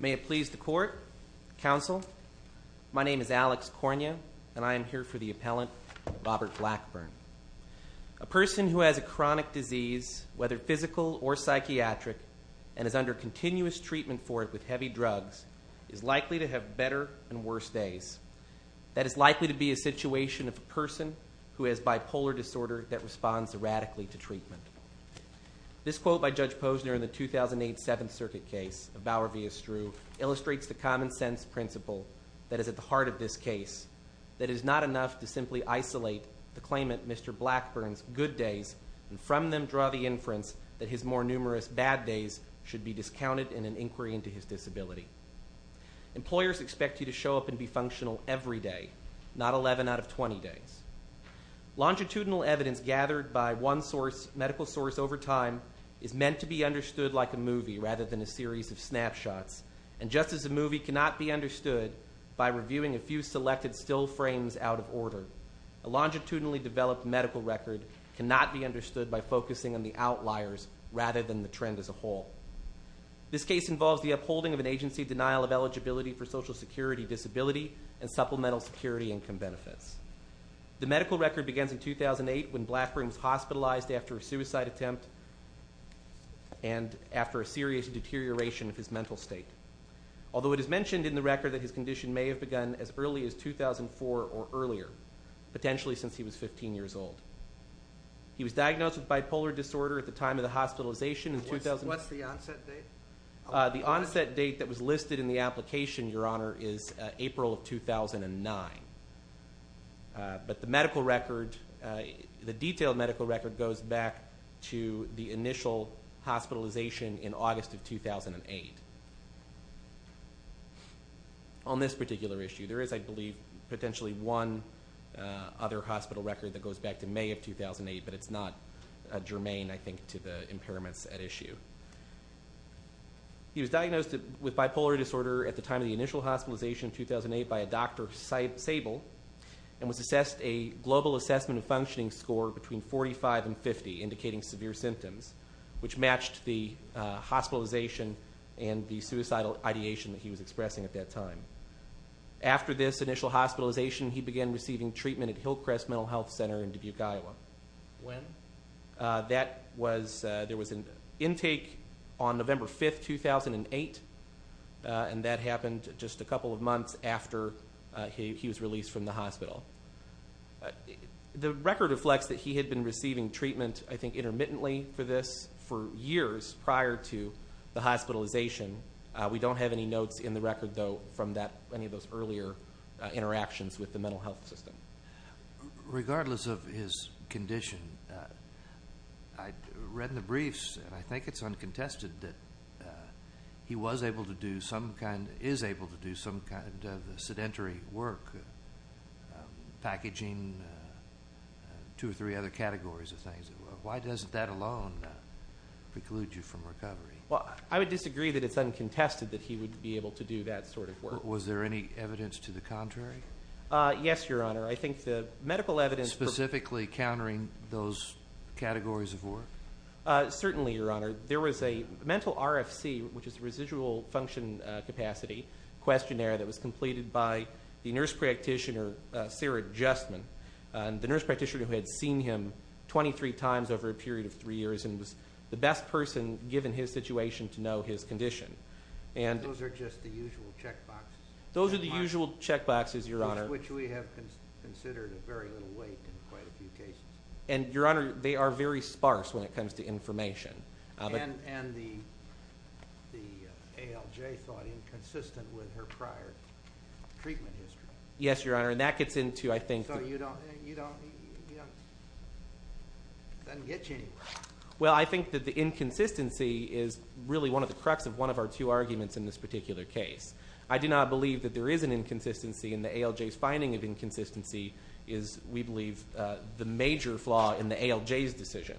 May it please the Court, Counsel, my name is Alex Cornea and I am here for the appellant Robert Blackburn. A person who has a chronic disease whether physical or psychiatric and is under continuous treatment for it with heavy drugs is likely to have better and worse treatment. This quote by Judge Posner in the 2008 Seventh Circuit case of Bower v. Estrue illustrates the common sense principle that is at the heart of this case that is not enough to simply isolate the claimant Mr. Blackburn's good days and from them draw the inference that his more numerous bad days should be discounted in an inquiry into his disability. Employers expect you to show up and be functional every day, not 11 out of 20 days. Longitudinal evidence gathered by one medical source over time is meant to be understood like a movie rather than a series of snapshots and just as a movie cannot be understood by reviewing a few selected still frames out of order, a longitudinally developed medical record cannot be understood by focusing on the outliers rather than the trend as a whole. This case involves the upholding of an agency denial of eligibility for Social Security disability and supplemental security income benefits. The medical record begins in 2008 when Blackburn was hospitalized after a suicide attempt and after a serious deterioration of his mental state. Although it is mentioned in the record that his condition may have begun as early as 2004 or earlier, potentially since he was 15 years old. He was diagnosed with bipolar disorder at the time of the hospitalization in 2000. What's the onset date? The onset date that was listed in the application, Your Honor, is April of 2009. But the medical record, the detailed medical record, goes back to the initial hospitalization in August of 2008. On this particular issue, there is, I believe, potentially one other hospital record that goes back to May of 2008, but it's not germane, I think, to the impairments at issue. He was diagnosed with bipolar disorder at the time of the initial hospitalization in 2008 by a Dr. Sable and was assessed a global assessment of functioning score between 45 and 50, indicating severe symptoms, which matched the hospitalization and the suicidal ideation that he was expressing at that time. After this initial hospitalization, he began receiving treatment at Hillcrest Mental Health Center in Dubuque, Iowa. When? That was, there was an intake on November 5th, 2008, and that happened just a couple of months after he was released from the hospital. The record reflects that he had been receiving treatment, I think, intermittently for this for years prior to the hospitalization. We don't have any notes in the record, though, from that, any of those earlier interactions with the mental health system. Regardless of his condition, I read in the briefs, and I think it's uncontested, that he was able to do some kind, is able to do some kind of sedentary work, packaging, two or three other categories of things. Why doesn't that alone preclude you from recovery? Well, I would disagree that it's uncontested that he would be able to do that sort of work. Was there any evidence to the contrary? Yes, Your Honor. I think the medical evidence... Specifically countering those categories of work? Certainly, Your Honor. There was a mental RFC, which is a residual function capacity questionnaire, that was completed by the nurse practitioner, Sarah Justman. The nurse practitioner who had seen him 23 times over a period of three years and was the best person, given his situation, to know his condition. Those are just the usual checkboxes? Those are the usual checkboxes, Your Honor. Which we have considered a very little weight in quite a few cases. And, Your Honor, they are very sparse when it comes to information. And the ALJ thought inconsistent with her prior treatment history. Yes, Your Honor. And that gets into, I think... So you don't... It doesn't get you anywhere. Well, I think that the inconsistency is really one of the crux of one of our two arguments in this particular case. I do not believe that there is an inconsistency, and the ALJ's finding of inconsistency is, we believe, the major flaw in the ALJ's decision.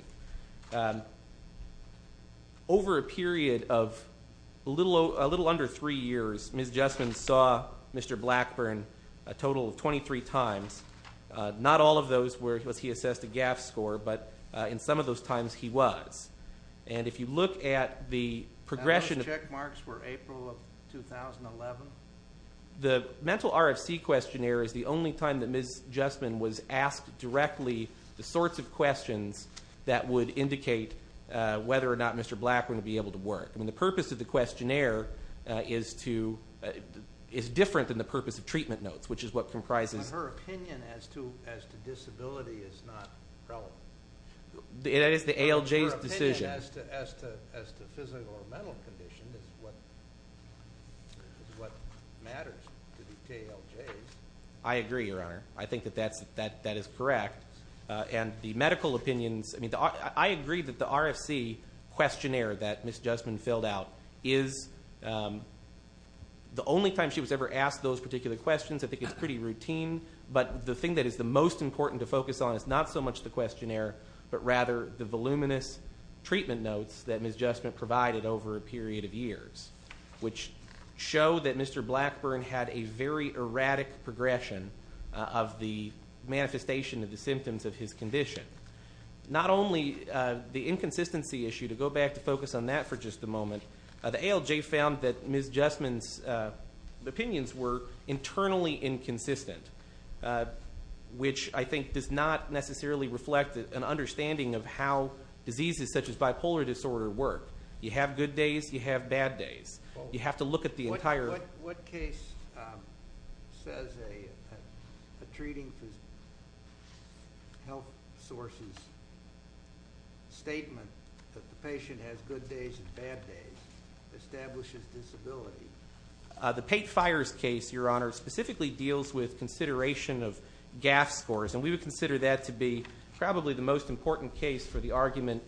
Over a period of a little under three years, Ms. Justman saw Mr. Blackburn a total of 23 times. Not all of those was he assessed a GAF score, but in some of those times he was. And if you look at the progression... The check marks were April of 2011. The mental RFC questionnaire is the only time that Ms. Justman was asked directly the sorts of questions that would indicate whether or not Mr. Blackburn would be able to work. I mean, the purpose of the questionnaire is different than the purpose of treatment notes, which is what comprises... But her opinion as to disability is not relevant. It is the ALJ's decision. As to physical or mental condition is what matters to the ALJ's. I agree, Your Honor. I think that that is correct. And the medical opinions... I agree that the RFC questionnaire that Ms. Justman filled out is the only time she was ever asked those particular questions. I think it's pretty routine. But the thing that is the most important to focus on is not so much the questionnaire, but rather the voluminous treatment notes that Ms. Justman provided over a period of years, which show that Mr. Blackburn had a very erratic progression of the manifestation of the symptoms of his condition. Not only the inconsistency issue, to go back to focus on that for just a moment, the ALJ found that Ms. Justman's opinions were internally inconsistent, which I think does not necessarily reflect an understanding of how diseases such as bipolar disorder work. You have good days, you have bad days. You have to look at the entire... What case says a treating health sources statement that the patient has good days and bad days establishes disability? The Pate Fires case, Your Honor, specifically deals with consideration of GAF scores, and we would consider that to be probably the most important case for the argument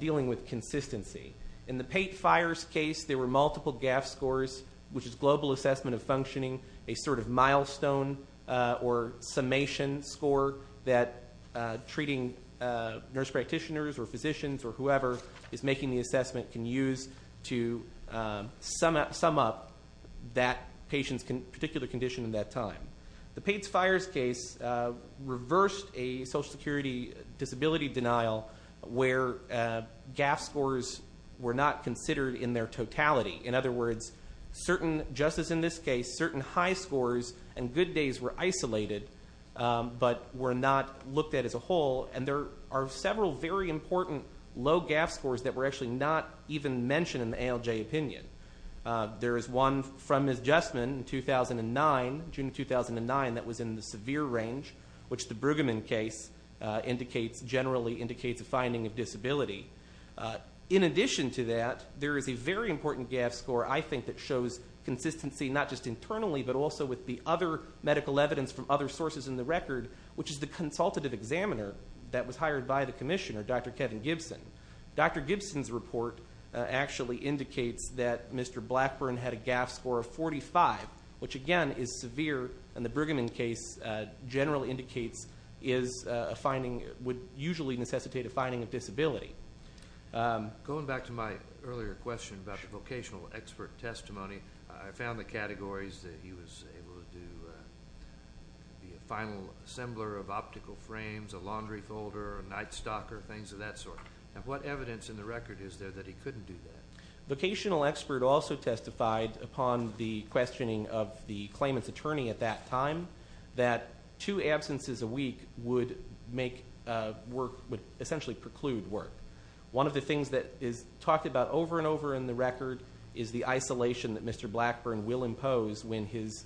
dealing with consistency. In the Pate Fires case, there were multiple GAF scores, which is Global Assessment of Functioning, a sort of milestone or summation score that treating nurse practitioners or physicians or whoever is making the assessment can use to sum up that patient's particular condition in that time. The Pate Fires case reversed a Social Security disability denial where GAF scores were not considered in their totality. In other words, certain, just as in this case, certain high scores and good days were isolated but were not looked at as a whole, and there are several very important low GAF scores that were actually not even mentioned in the ALJ opinion. There is one from Ms. Jessman in 2009, June 2009, that was in the severe range, which the Brueggemann case indicates generally indicates a finding of disability. In addition to that, there is a very important GAF score, I think, that shows consistency not just internally but also with the other medical evidence from other sources in the record, which is the consultative examiner that was hired by the commissioner, Dr. Kevin Gibson. Dr. Gibson's report actually indicates that Mr. Blackburn had a GAF score of 45, which again is severe, and the Brueggemann case generally indicates is a finding... would usually necessitate a finding of disability. Going back to my earlier question about the vocational expert testimony, I found the categories that he was able to do would be a final assembler of optical frames, a laundry folder, a night stalker, things of that sort. What evidence in the record is there that he couldn't do that? Vocational expert also testified upon the questioning of the claimant's attorney at that time that two absences a week would make work... would essentially preclude work. One of the things that is talked about over and over in the record is the isolation that Mr. Blackburn will impose when his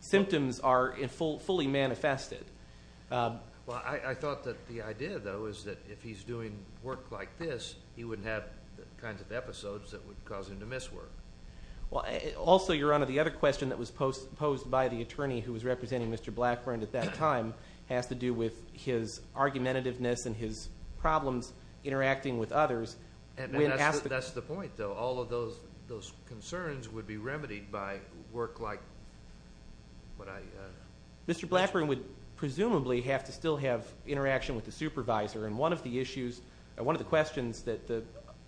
symptoms are fully manifested. Well, I thought that the idea, though, is that if he's doing work like this, he wouldn't have the kinds of episodes that would cause him to miss work. Also, Your Honor, the other question that was posed by the attorney who was representing Mr. Blackburn at that time has to do with his argumentativeness and his problems interacting with others. That's the point, though. All of those concerns would be remedied by work like what I... Mr. Blackburn would presumably have to still have interaction with the supervisor, and one of the questions that the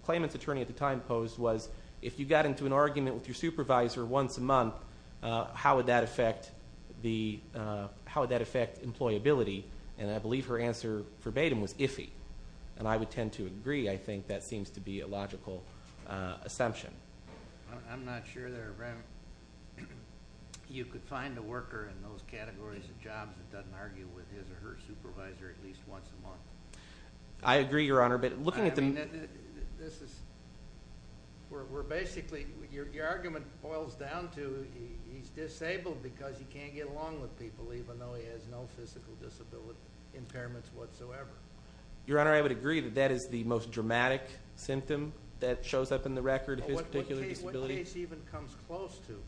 claimant's attorney at the time posed was, if you got into an argument with your supervisor once a month, how would that affect employability? And I believe her answer verbatim was iffy. And I would tend to agree. I think that seems to be a logical assumption. I'm not sure that you could find a worker in those categories of jobs that doesn't argue with his or her supervisor at least once a month. I agree, Your Honor, but looking at the... This is... We're basically... Your argument boils down to he's disabled because he can't get along with people, even though he has no physical impairments whatsoever. Your Honor, I would agree that that is the most dramatic symptom that shows up in the record of his particular disability. What case even comes close to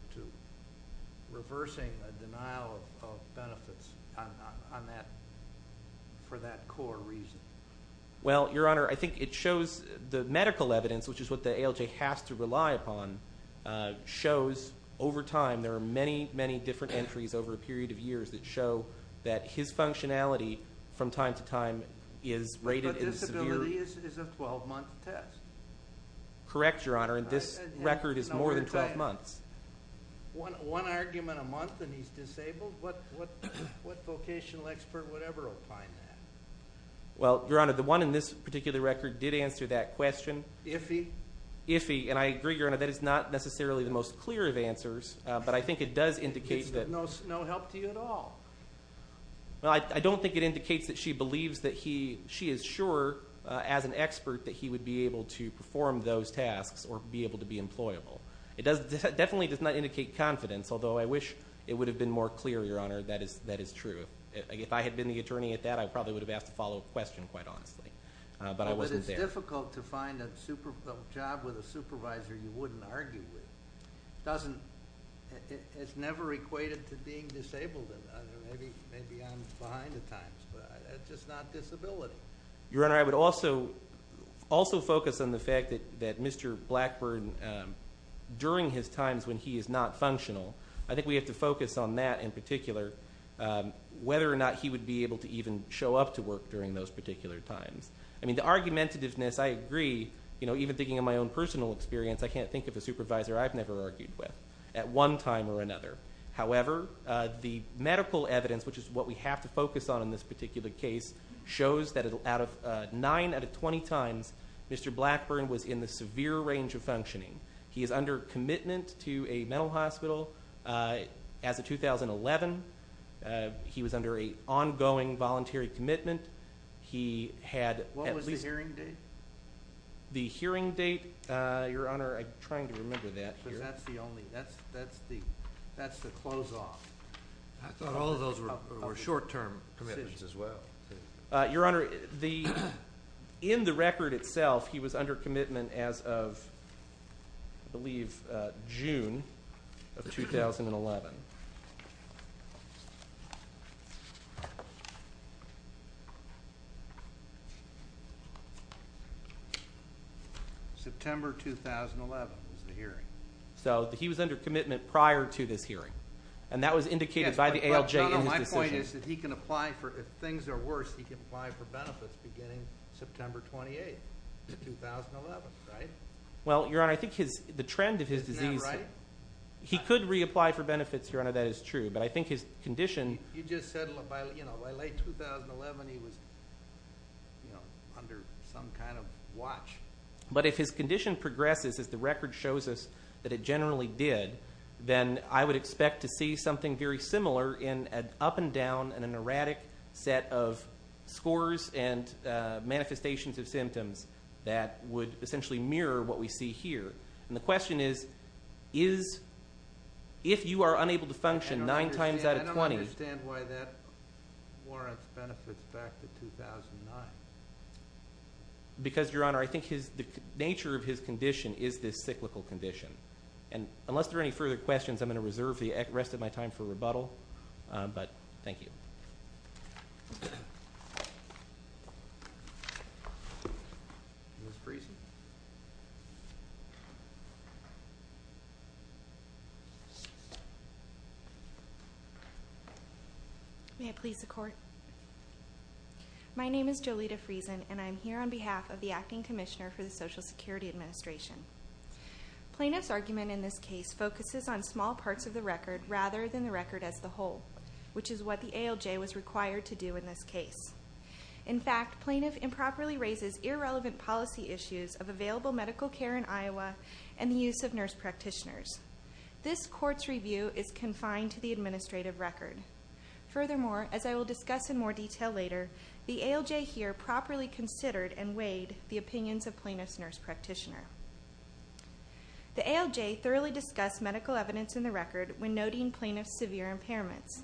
reversing a denial of benefits on that... for that core reason? Well, Your Honor, I think it shows... The medical evidence, which is what the ALJ has to rely upon, shows over time there are many, many different entries over a period of years that show that his functionality from time to time is rated as severe... But disability is a 12-month test. Correct, Your Honor, and this record is more than 12 months. One argument a month and he's disabled? What vocational expert would ever opine that? Well, Your Honor, the one in this particular record did answer that question. Ify? Ify, and I agree, Your Honor, that is not necessarily the most clear of answers, but I think it does indicate that... It's no help to you at all. Well, I don't think it indicates that she believes that he... She is sure, as an expert, that he would be able to perform those tasks or be able to be employable. It definitely does not indicate confidence, although I wish it would have been more clear, Your Honor, that is true. If I had been the attorney at that, I probably would have asked a follow-up question, quite honestly, but I wasn't there. But it's difficult to find a job with a supervisor you wouldn't argue with. It doesn't... It's never equated to being disabled. Maybe I'm behind the times, but it's just not disability. Your Honor, I would also... also focus on the fact that Mr. Blackburn, during his times when he is not functional, I think we have to focus on that in particular, whether or not he would be able to even show up to work during those particular times. I mean, the argumentativeness, I agree. You know, even thinking of my own personal experience, I can't think of a supervisor I've never argued with. At one time or another. However, the medical evidence, which is what we have to focus on in this particular case, shows that out of 9 out of 20 times, Mr. Blackburn was in the severe range of functioning. He is under commitment to a mental hospital. As of 2011, he was under an ongoing voluntary commitment. What was the hearing date? The hearing date, Your Honor, I'm trying to remember that. But that's the only... that's the close-off. I thought all of those were short-term commitments as well. Your Honor, in the record itself, he was under commitment as of, I believe, June of 2011. September 2011 was the hearing. So he was under commitment prior to this hearing. And that was indicated by the ALJ in his decision. My point is that he can apply for... if things are worse, he can apply for benefits beginning September 28, 2011. Right? Well, Your Honor, I think the trend of his disease... He could reapply for benefits here. He could reapply for benefits here. Your Honor, that is true. But I think his condition... You just said, you know, by late 2011, he was, you know, under some kind of watch. But if his condition progresses, as the record shows us that it generally did, then I would expect to see something very similar in an up and down and an erratic set of scores and manifestations of symptoms that would essentially mirror what we see here. And the question is, if you are unable to function nine times out of 20... I don't understand why that warrants benefits back to 2009. Because, Your Honor, I think the nature of his condition is this cyclical condition. And unless there are any further questions, I'm gonna reserve the rest of my time for rebuttal. But thank you. Ms. Friesen. May I please the court? My name is Jolita Friesen, and I'm here on behalf of the Acting Commissioner for the Social Security Administration. Plaintiff's argument in this case focuses on small parts of the record rather than the record as the whole, which is what the ALJ was required to do in this case. In fact, plaintiff improperly raises irrelevant policy issues of available medical care in Iowa and the use of nurse practitioners. This court's review is confined to the administrative record. Furthermore, as I will discuss in more detail later, the ALJ here properly considered and weighed the opinions of plaintiff's nurse practitioner. The ALJ thoroughly discussed medical evidence in the record when noting plaintiff's severe impairments.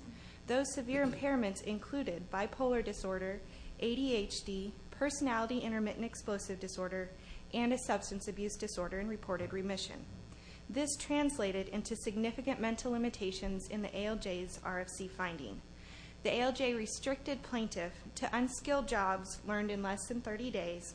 Those severe impairments included bipolar disorder, ADHD, personality intermittent explosive disorder, and a substance abuse disorder and reported remission. This translated into significant mental limitations in the ALJ's RFC finding. The ALJ restricted plaintiff to unskilled jobs learned in less than 30 days,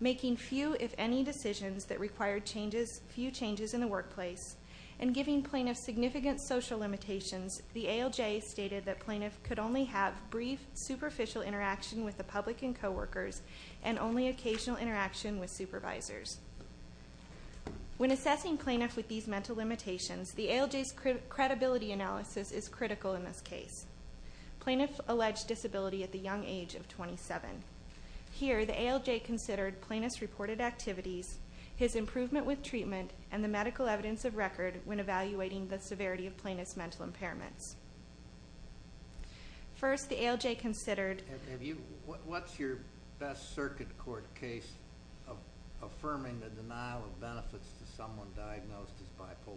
making few, if any, decisions that required few changes in the workplace, and giving plaintiff significant social limitations. The ALJ stated that plaintiff could only have brief, superficial interaction with the public and coworkers and only occasional interaction with supervisors. When assessing plaintiff with these mental limitations, the ALJ's credibility analysis is critical in this case. Plaintiff alleged disability at the young age of 27. Here, the ALJ considered plaintiff's reported activities, his improvement with treatment, and the medical evidence of record when evaluating the severity of plaintiff's mental impairments. First, the ALJ considered... What's your best circuit court case affirming the denial of benefits to someone diagnosed as bipolar?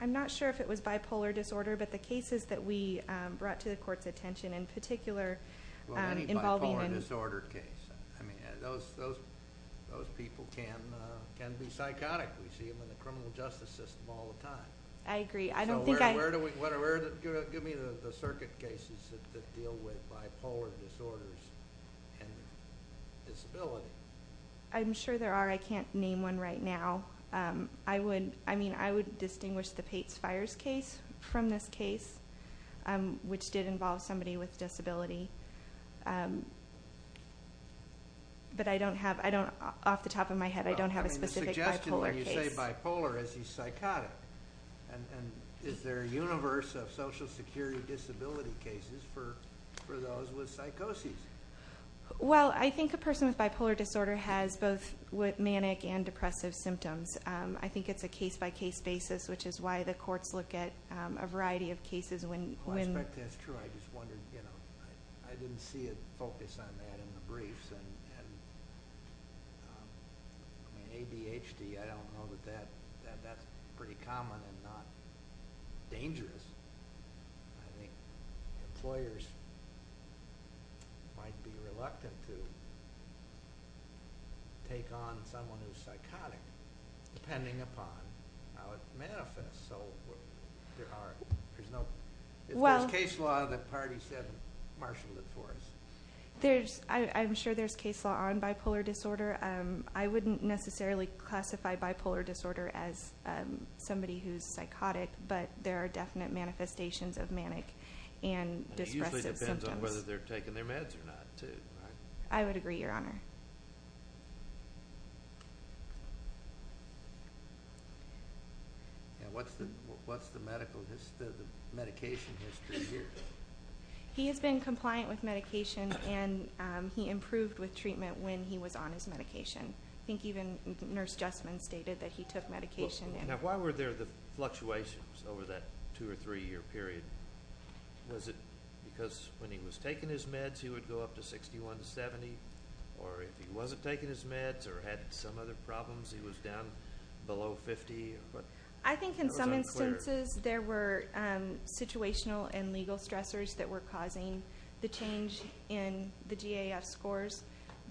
I'm not sure if it was bipolar disorder, but the cases that we brought to the court's attention in particular involving... Those people can be psychotic. We see them in the criminal justice system all the time. I agree. Give me the circuit cases that deal with bipolar disorders and disability. I'm sure there are. I can't name one right now. I would distinguish the Pates Fires case from this case, which did involve somebody with disability. Off the top of my head, I don't have a specific bipolar case. The suggestion when you say bipolar is he's psychotic. Is there a universe of social security disability cases for those with psychoses? I think a person with bipolar disorder has both manic and depressive symptoms. I think it's a case-by-case basis, which is why the courts look at a variety of cases when... I suspect that's true. I didn't see a focus on that in the briefs. ADHD, I don't know that that's pretty common and not dangerous. might be reluctant to take on someone who's psychotic, depending upon how it manifests. There's no... If there's case law that the party said, marshal it for us. I'm sure there's case law on bipolar disorder. I wouldn't necessarily classify bipolar disorder as somebody who's psychotic, but there are definite manifestations of manic and depressive symptoms. It usually depends on whether they're taking their meds or not, too. I would agree, Your Honor. What's the medication history here? He has been compliant with medication and he improved with treatment when he was on his medication. I think even Nurse Jessamine stated that he took medication. Why were there the fluctuations over that two or three year period? Was it because when he was taking his meds, he would go up to 61 to 70? Or if he wasn't taking his meds or had some other problems, he was down below 50? I think in some instances there were situational and legal stressors that were causing the change in the GAF scores,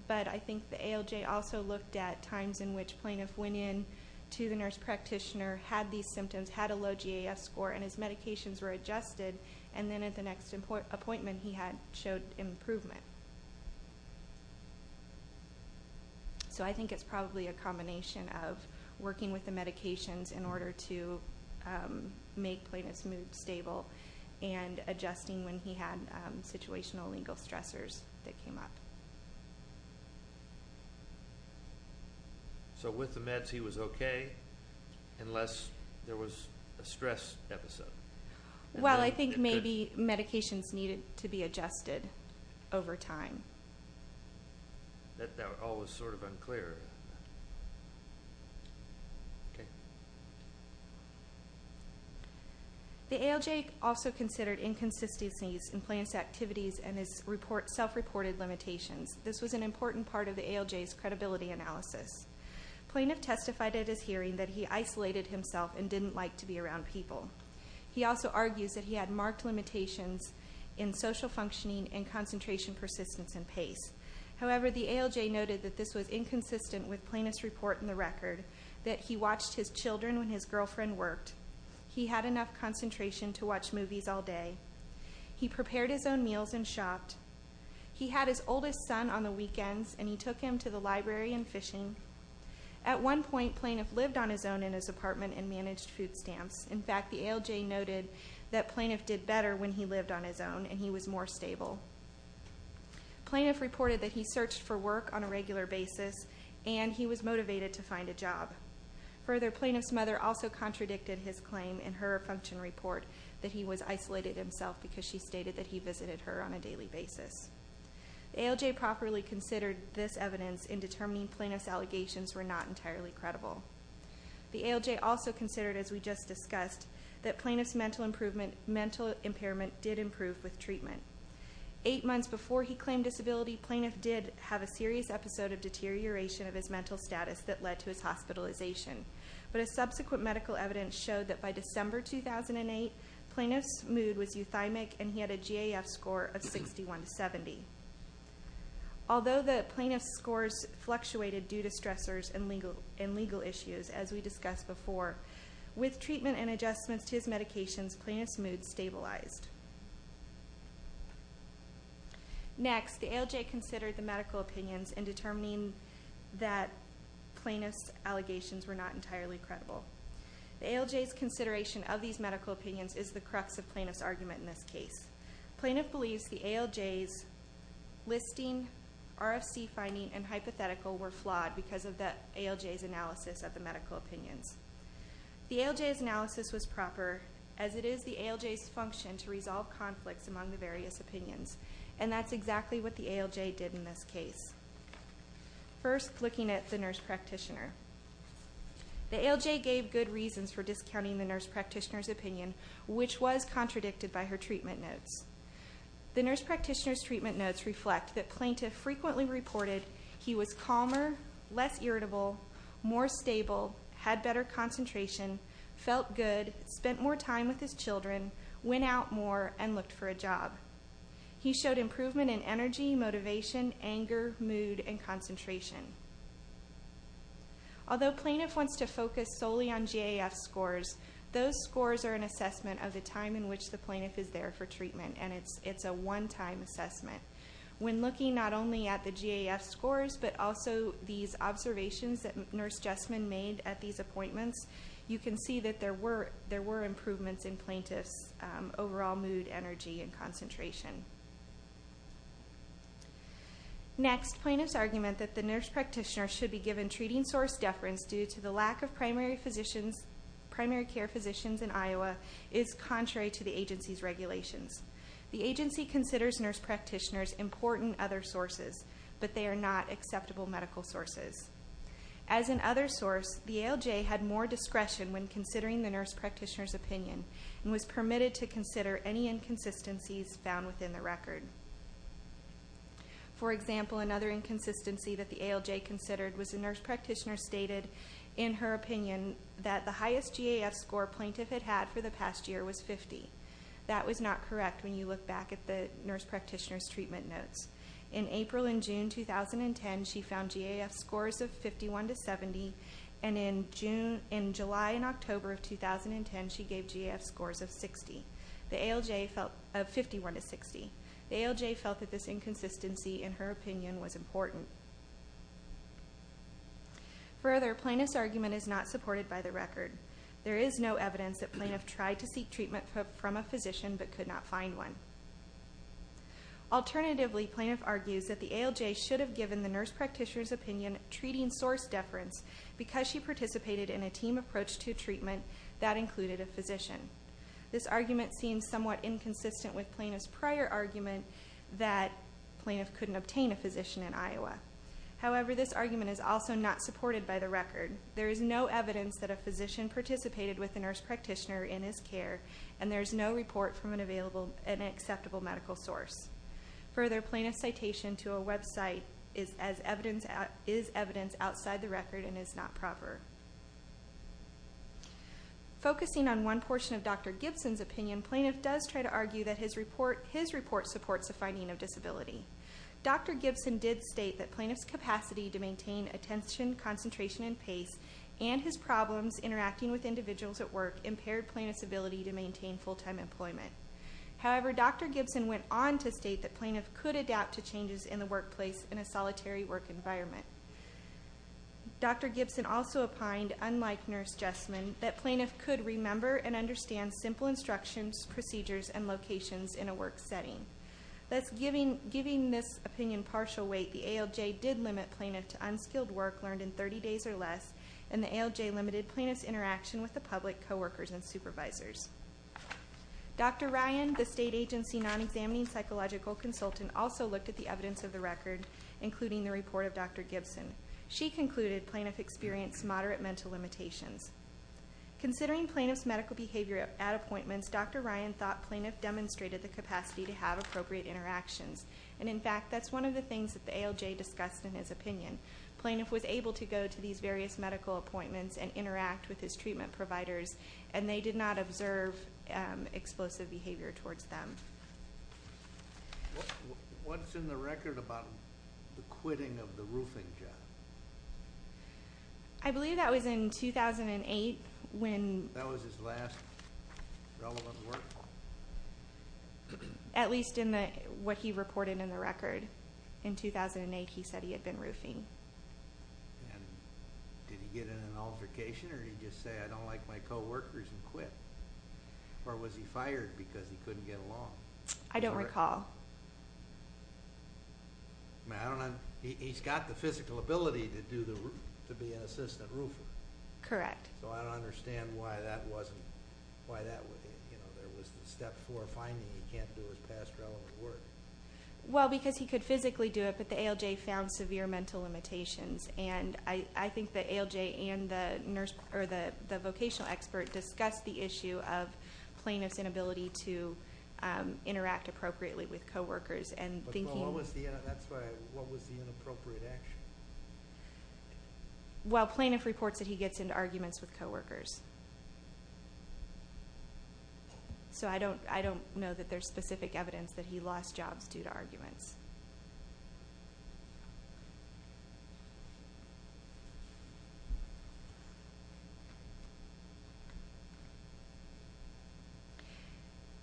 but I think the ALJ also looked at times in which plaintiff went in to the nurse practitioner, had these symptoms, had a low GAF score, and his medications were adjusted, and then at the next appointment he had showed improvement. So I think it's probably a combination of working with the medications in order to make plaintiff's mood stable and adjusting when he had situational and legal stressors that came up. So with the meds he was okay unless there was a stress episode? Well, I think maybe medications needed to be adjusted over time. That all was sort of okay. The ALJ also considered inconsistencies in plaintiff's activities and his self-reported limitations. This was an important part of the ALJ's credibility analysis. Plaintiff testified at his hearing that he isolated himself and didn't like to be around people. He also argues that he had marked limitations in social functioning and concentration, persistence, and pace. However, the ALJ noted that this was inconsistent with plaintiff's report in the record that he watched his children when his girlfriend worked. He had enough concentration to watch movies all day. He prepared his own meals and shopped. He had his oldest son on the weekends and he took him to the library and fishing. At one point, plaintiff lived on his own in his apartment and managed food stamps. In fact, the ALJ noted that plaintiff did better when he lived on his own and he was more stable. Plaintiff reported that he and he was motivated to find a job. Further, plaintiff's mother also contradicted his claim in her function report that he was isolated himself because she stated that he visited her on a daily basis. The ALJ properly considered this evidence in determining plaintiff's allegations were not entirely credible. The ALJ also considered, as we just discussed, that plaintiff's mental impairment did improve with treatment. Eight months before he claimed disability, plaintiff did have a serious episode of deterioration of his mental status that led to his hospitalization. But a subsequent medical evidence showed that by December 2008, plaintiff's mood was euthymic and he had a GAF score of 61 to 70. Although the plaintiff's scores fluctuated due to stressors and legal issues, as we discussed before, with treatment and adjustments to his medications, plaintiff's mood stabilized. Next, the ALJ considered the medical opinions in determining that plaintiff's allegations were not entirely credible. The ALJ's consideration of these medical opinions is the crux of plaintiff's argument in this case. Plaintiff believes the ALJ's listing, RFC finding, and hypothetical were flawed because of the ALJ's analysis of the medical opinions. The ALJ's analysis was proper, as it is the ALJ's function to resolve conflicts among the various opinions. And that's exactly what the ALJ did in this case. First, looking at the nurse practitioner. The ALJ gave good reasons for discounting the nurse practitioner's opinion, which was contradicted by her treatment notes. The nurse practitioner's treatment notes reflect that plaintiff calmer, less irritable, more stable, had better concentration, felt good, spent more time with his children, went out more, and looked for a job. He showed improvement in energy, motivation, anger, mood, and concentration. Although plaintiff wants to focus solely on GAF scores, those scores are an assessment of the time in which the plaintiff is there for treatment, and it's a one-time assessment. When looking not only at the GAF scores, but also these observations that nurse Jessman made at these appointments, you can see that there were improvements in plaintiff's overall mood, energy, and concentration. Next, plaintiff's argument that the nurse practitioner should be given treating source deference due to the lack of primary care physicians in Iowa is contrary to the agency's regulations. The agency considers nurse practitioners important other sources, but they are not acceptable medical sources. As an other source, the ALJ had more discretion when considering the nurse practitioner's opinion and was permitted to consider any inconsistencies found within the record. For example, another inconsistency that the ALJ considered was the nurse practitioner stated in her opinion that the highest GAF score plaintiff had had for the past year was 50. That was not correct when you look back at the nurse practitioner's treatment notes. In April and June 2010, she found GAF scores of 51-70 and in July and October of 2010, she gave GAF scores of 50-60. The ALJ felt that this inconsistency in her opinion was important. Further, plaintiff's argument is not supported by the record. There is no evidence that plaintiff tried to seek treatment from a physician but could not find one. Alternatively, plaintiff argues that the ALJ should have given the nurse practitioner's opinion treating source deference because she participated in a team approach to treatment that included a physician. This argument seems somewhat inconsistent with plaintiff's prior argument that plaintiff couldn't obtain a physician in Iowa. However, this argument is also not supported by the record. There is no evidence that a physician participated with a nurse practitioner in his care and there is no report from an acceptable medical source. Further, plaintiff's citation to a website is evidence outside the record and is not proper. Focusing on one portion of Dr. Gibson's opinion, plaintiff does try to argue that his report supports the finding of disability. Dr. Gibson did state that plaintiff's capacity to maintain attention, concentration and pace and his problems interacting with individuals at work impaired plaintiff's ability to maintain full-time employment. However, Dr. Gibson went on to state that plaintiff could adapt to changes in the workplace in a solitary work environment. Dr. Gibson also opined unlike Nurse Jessman, that plaintiff could remember and understand simple instructions, procedures and locations in a work setting. Giving this opinion partial weight, the ALJ did limit plaintiff to unskilled work learned in 30 days or less and the ALJ limited plaintiff's interaction with the public, coworkers and supervisors. Dr. Ryan, the state agency non-examining psychological consultant also looked at the evidence of the record including the report of Dr. Gibson. She concluded plaintiff experienced moderate mental limitations. Considering plaintiff's medical behavior at appointments, Dr. Ryan thought plaintiff demonstrated the capacity to have appropriate interactions and in fact that's one of the things that the ALJ discussed in his opinion. Plaintiff was able to go to these various medical appointments and interact with his treatment providers and they did not observe explosive behavior towards them. What's in the record about the quitting of the roofing job? I believe that was in 2008 when... That was his last relevant work? At least in what he reported in the record. In 2008 he said he had been roofing. And did he get in an altercation or did he just say I don't like my coworkers and quit? Or was he fired because he couldn't get along? I don't recall. He's got the physical ability to do the... to be an assistant roofer. Correct. So I don't understand why that wasn't... there was the step four finding he can't do his past relevant work. Well because he could physically do it but the ALJ found severe mental limitations and I and the vocational expert discussed the issue of plaintiff's inability to interact appropriately with coworkers and thinking... What was the inappropriate action? Well plaintiff reports that he gets into arguments with coworkers. evidence that he lost jobs due to arguments.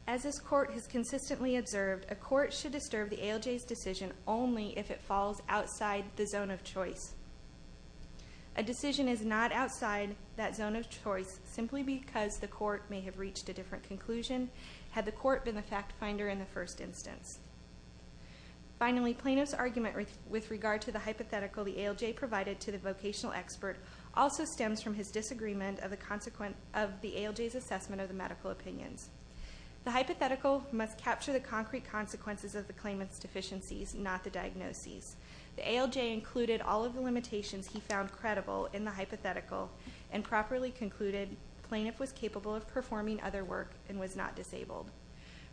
As this court has consistently observed a court should disturb the ALJ's decision only if it falls outside the zone of choice. A decision is not outside that zone of choice simply because the court may have reached a different conclusion had the court been the fact finder in the first instance. with regard to the hypothetical the ALJ provided to the vocational expert also suggests that the ALJ also stems from his disagreement of the consequence of the ALJ's assessment of the medical opinions. The hypothetical must capture the concrete consequences of the claimant's deficiencies not the diagnoses. The ALJ included all of the limitations he found credible in the hypothetical and properly concluded plaintiff was capable of performing other work and was not disabled.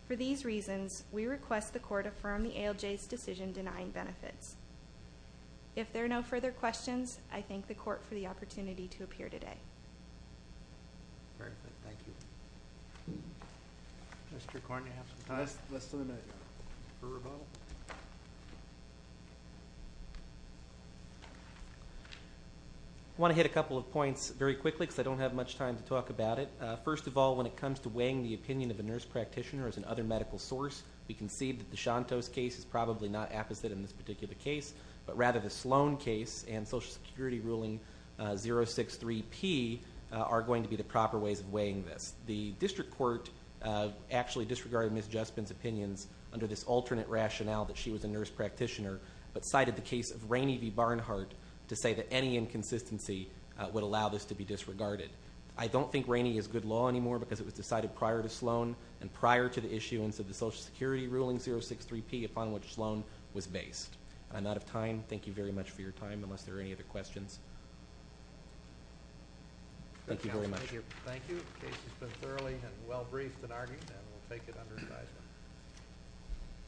For these reasons we request the court affirm the ALJ's decision denying benefits. If there are no further questions I thank the court for the opportunity to appear today. I want to hit a couple of points very quickly because I don't have much time to talk about it. First of all when it comes to weighing the opinion of a nurse practitioner as an other medical source we can see that Deshanto's case is probably not apposite in this particular case but rather the Sloan case and Social Security ruling 063P are going to be the proper ways of weighing this. The district court actually disregarded Ms. Juspin's opinions under this alternate rationale that she was a nurse practitioner but cited the case of Rainey v. Barnhart to say that any inconsistency would allow this to be disregarded. I don't think Rainey is good law anymore because it was decided prior to Sloan and prior to the issue and so the Social Security ruling 063P upon which Sloan was based. I'm out of time. Thank you very much for your time unless there are any other questions. Thank you very much. Thank you. The case has been thoroughly and well briefed and argued and we'll take it under advisement.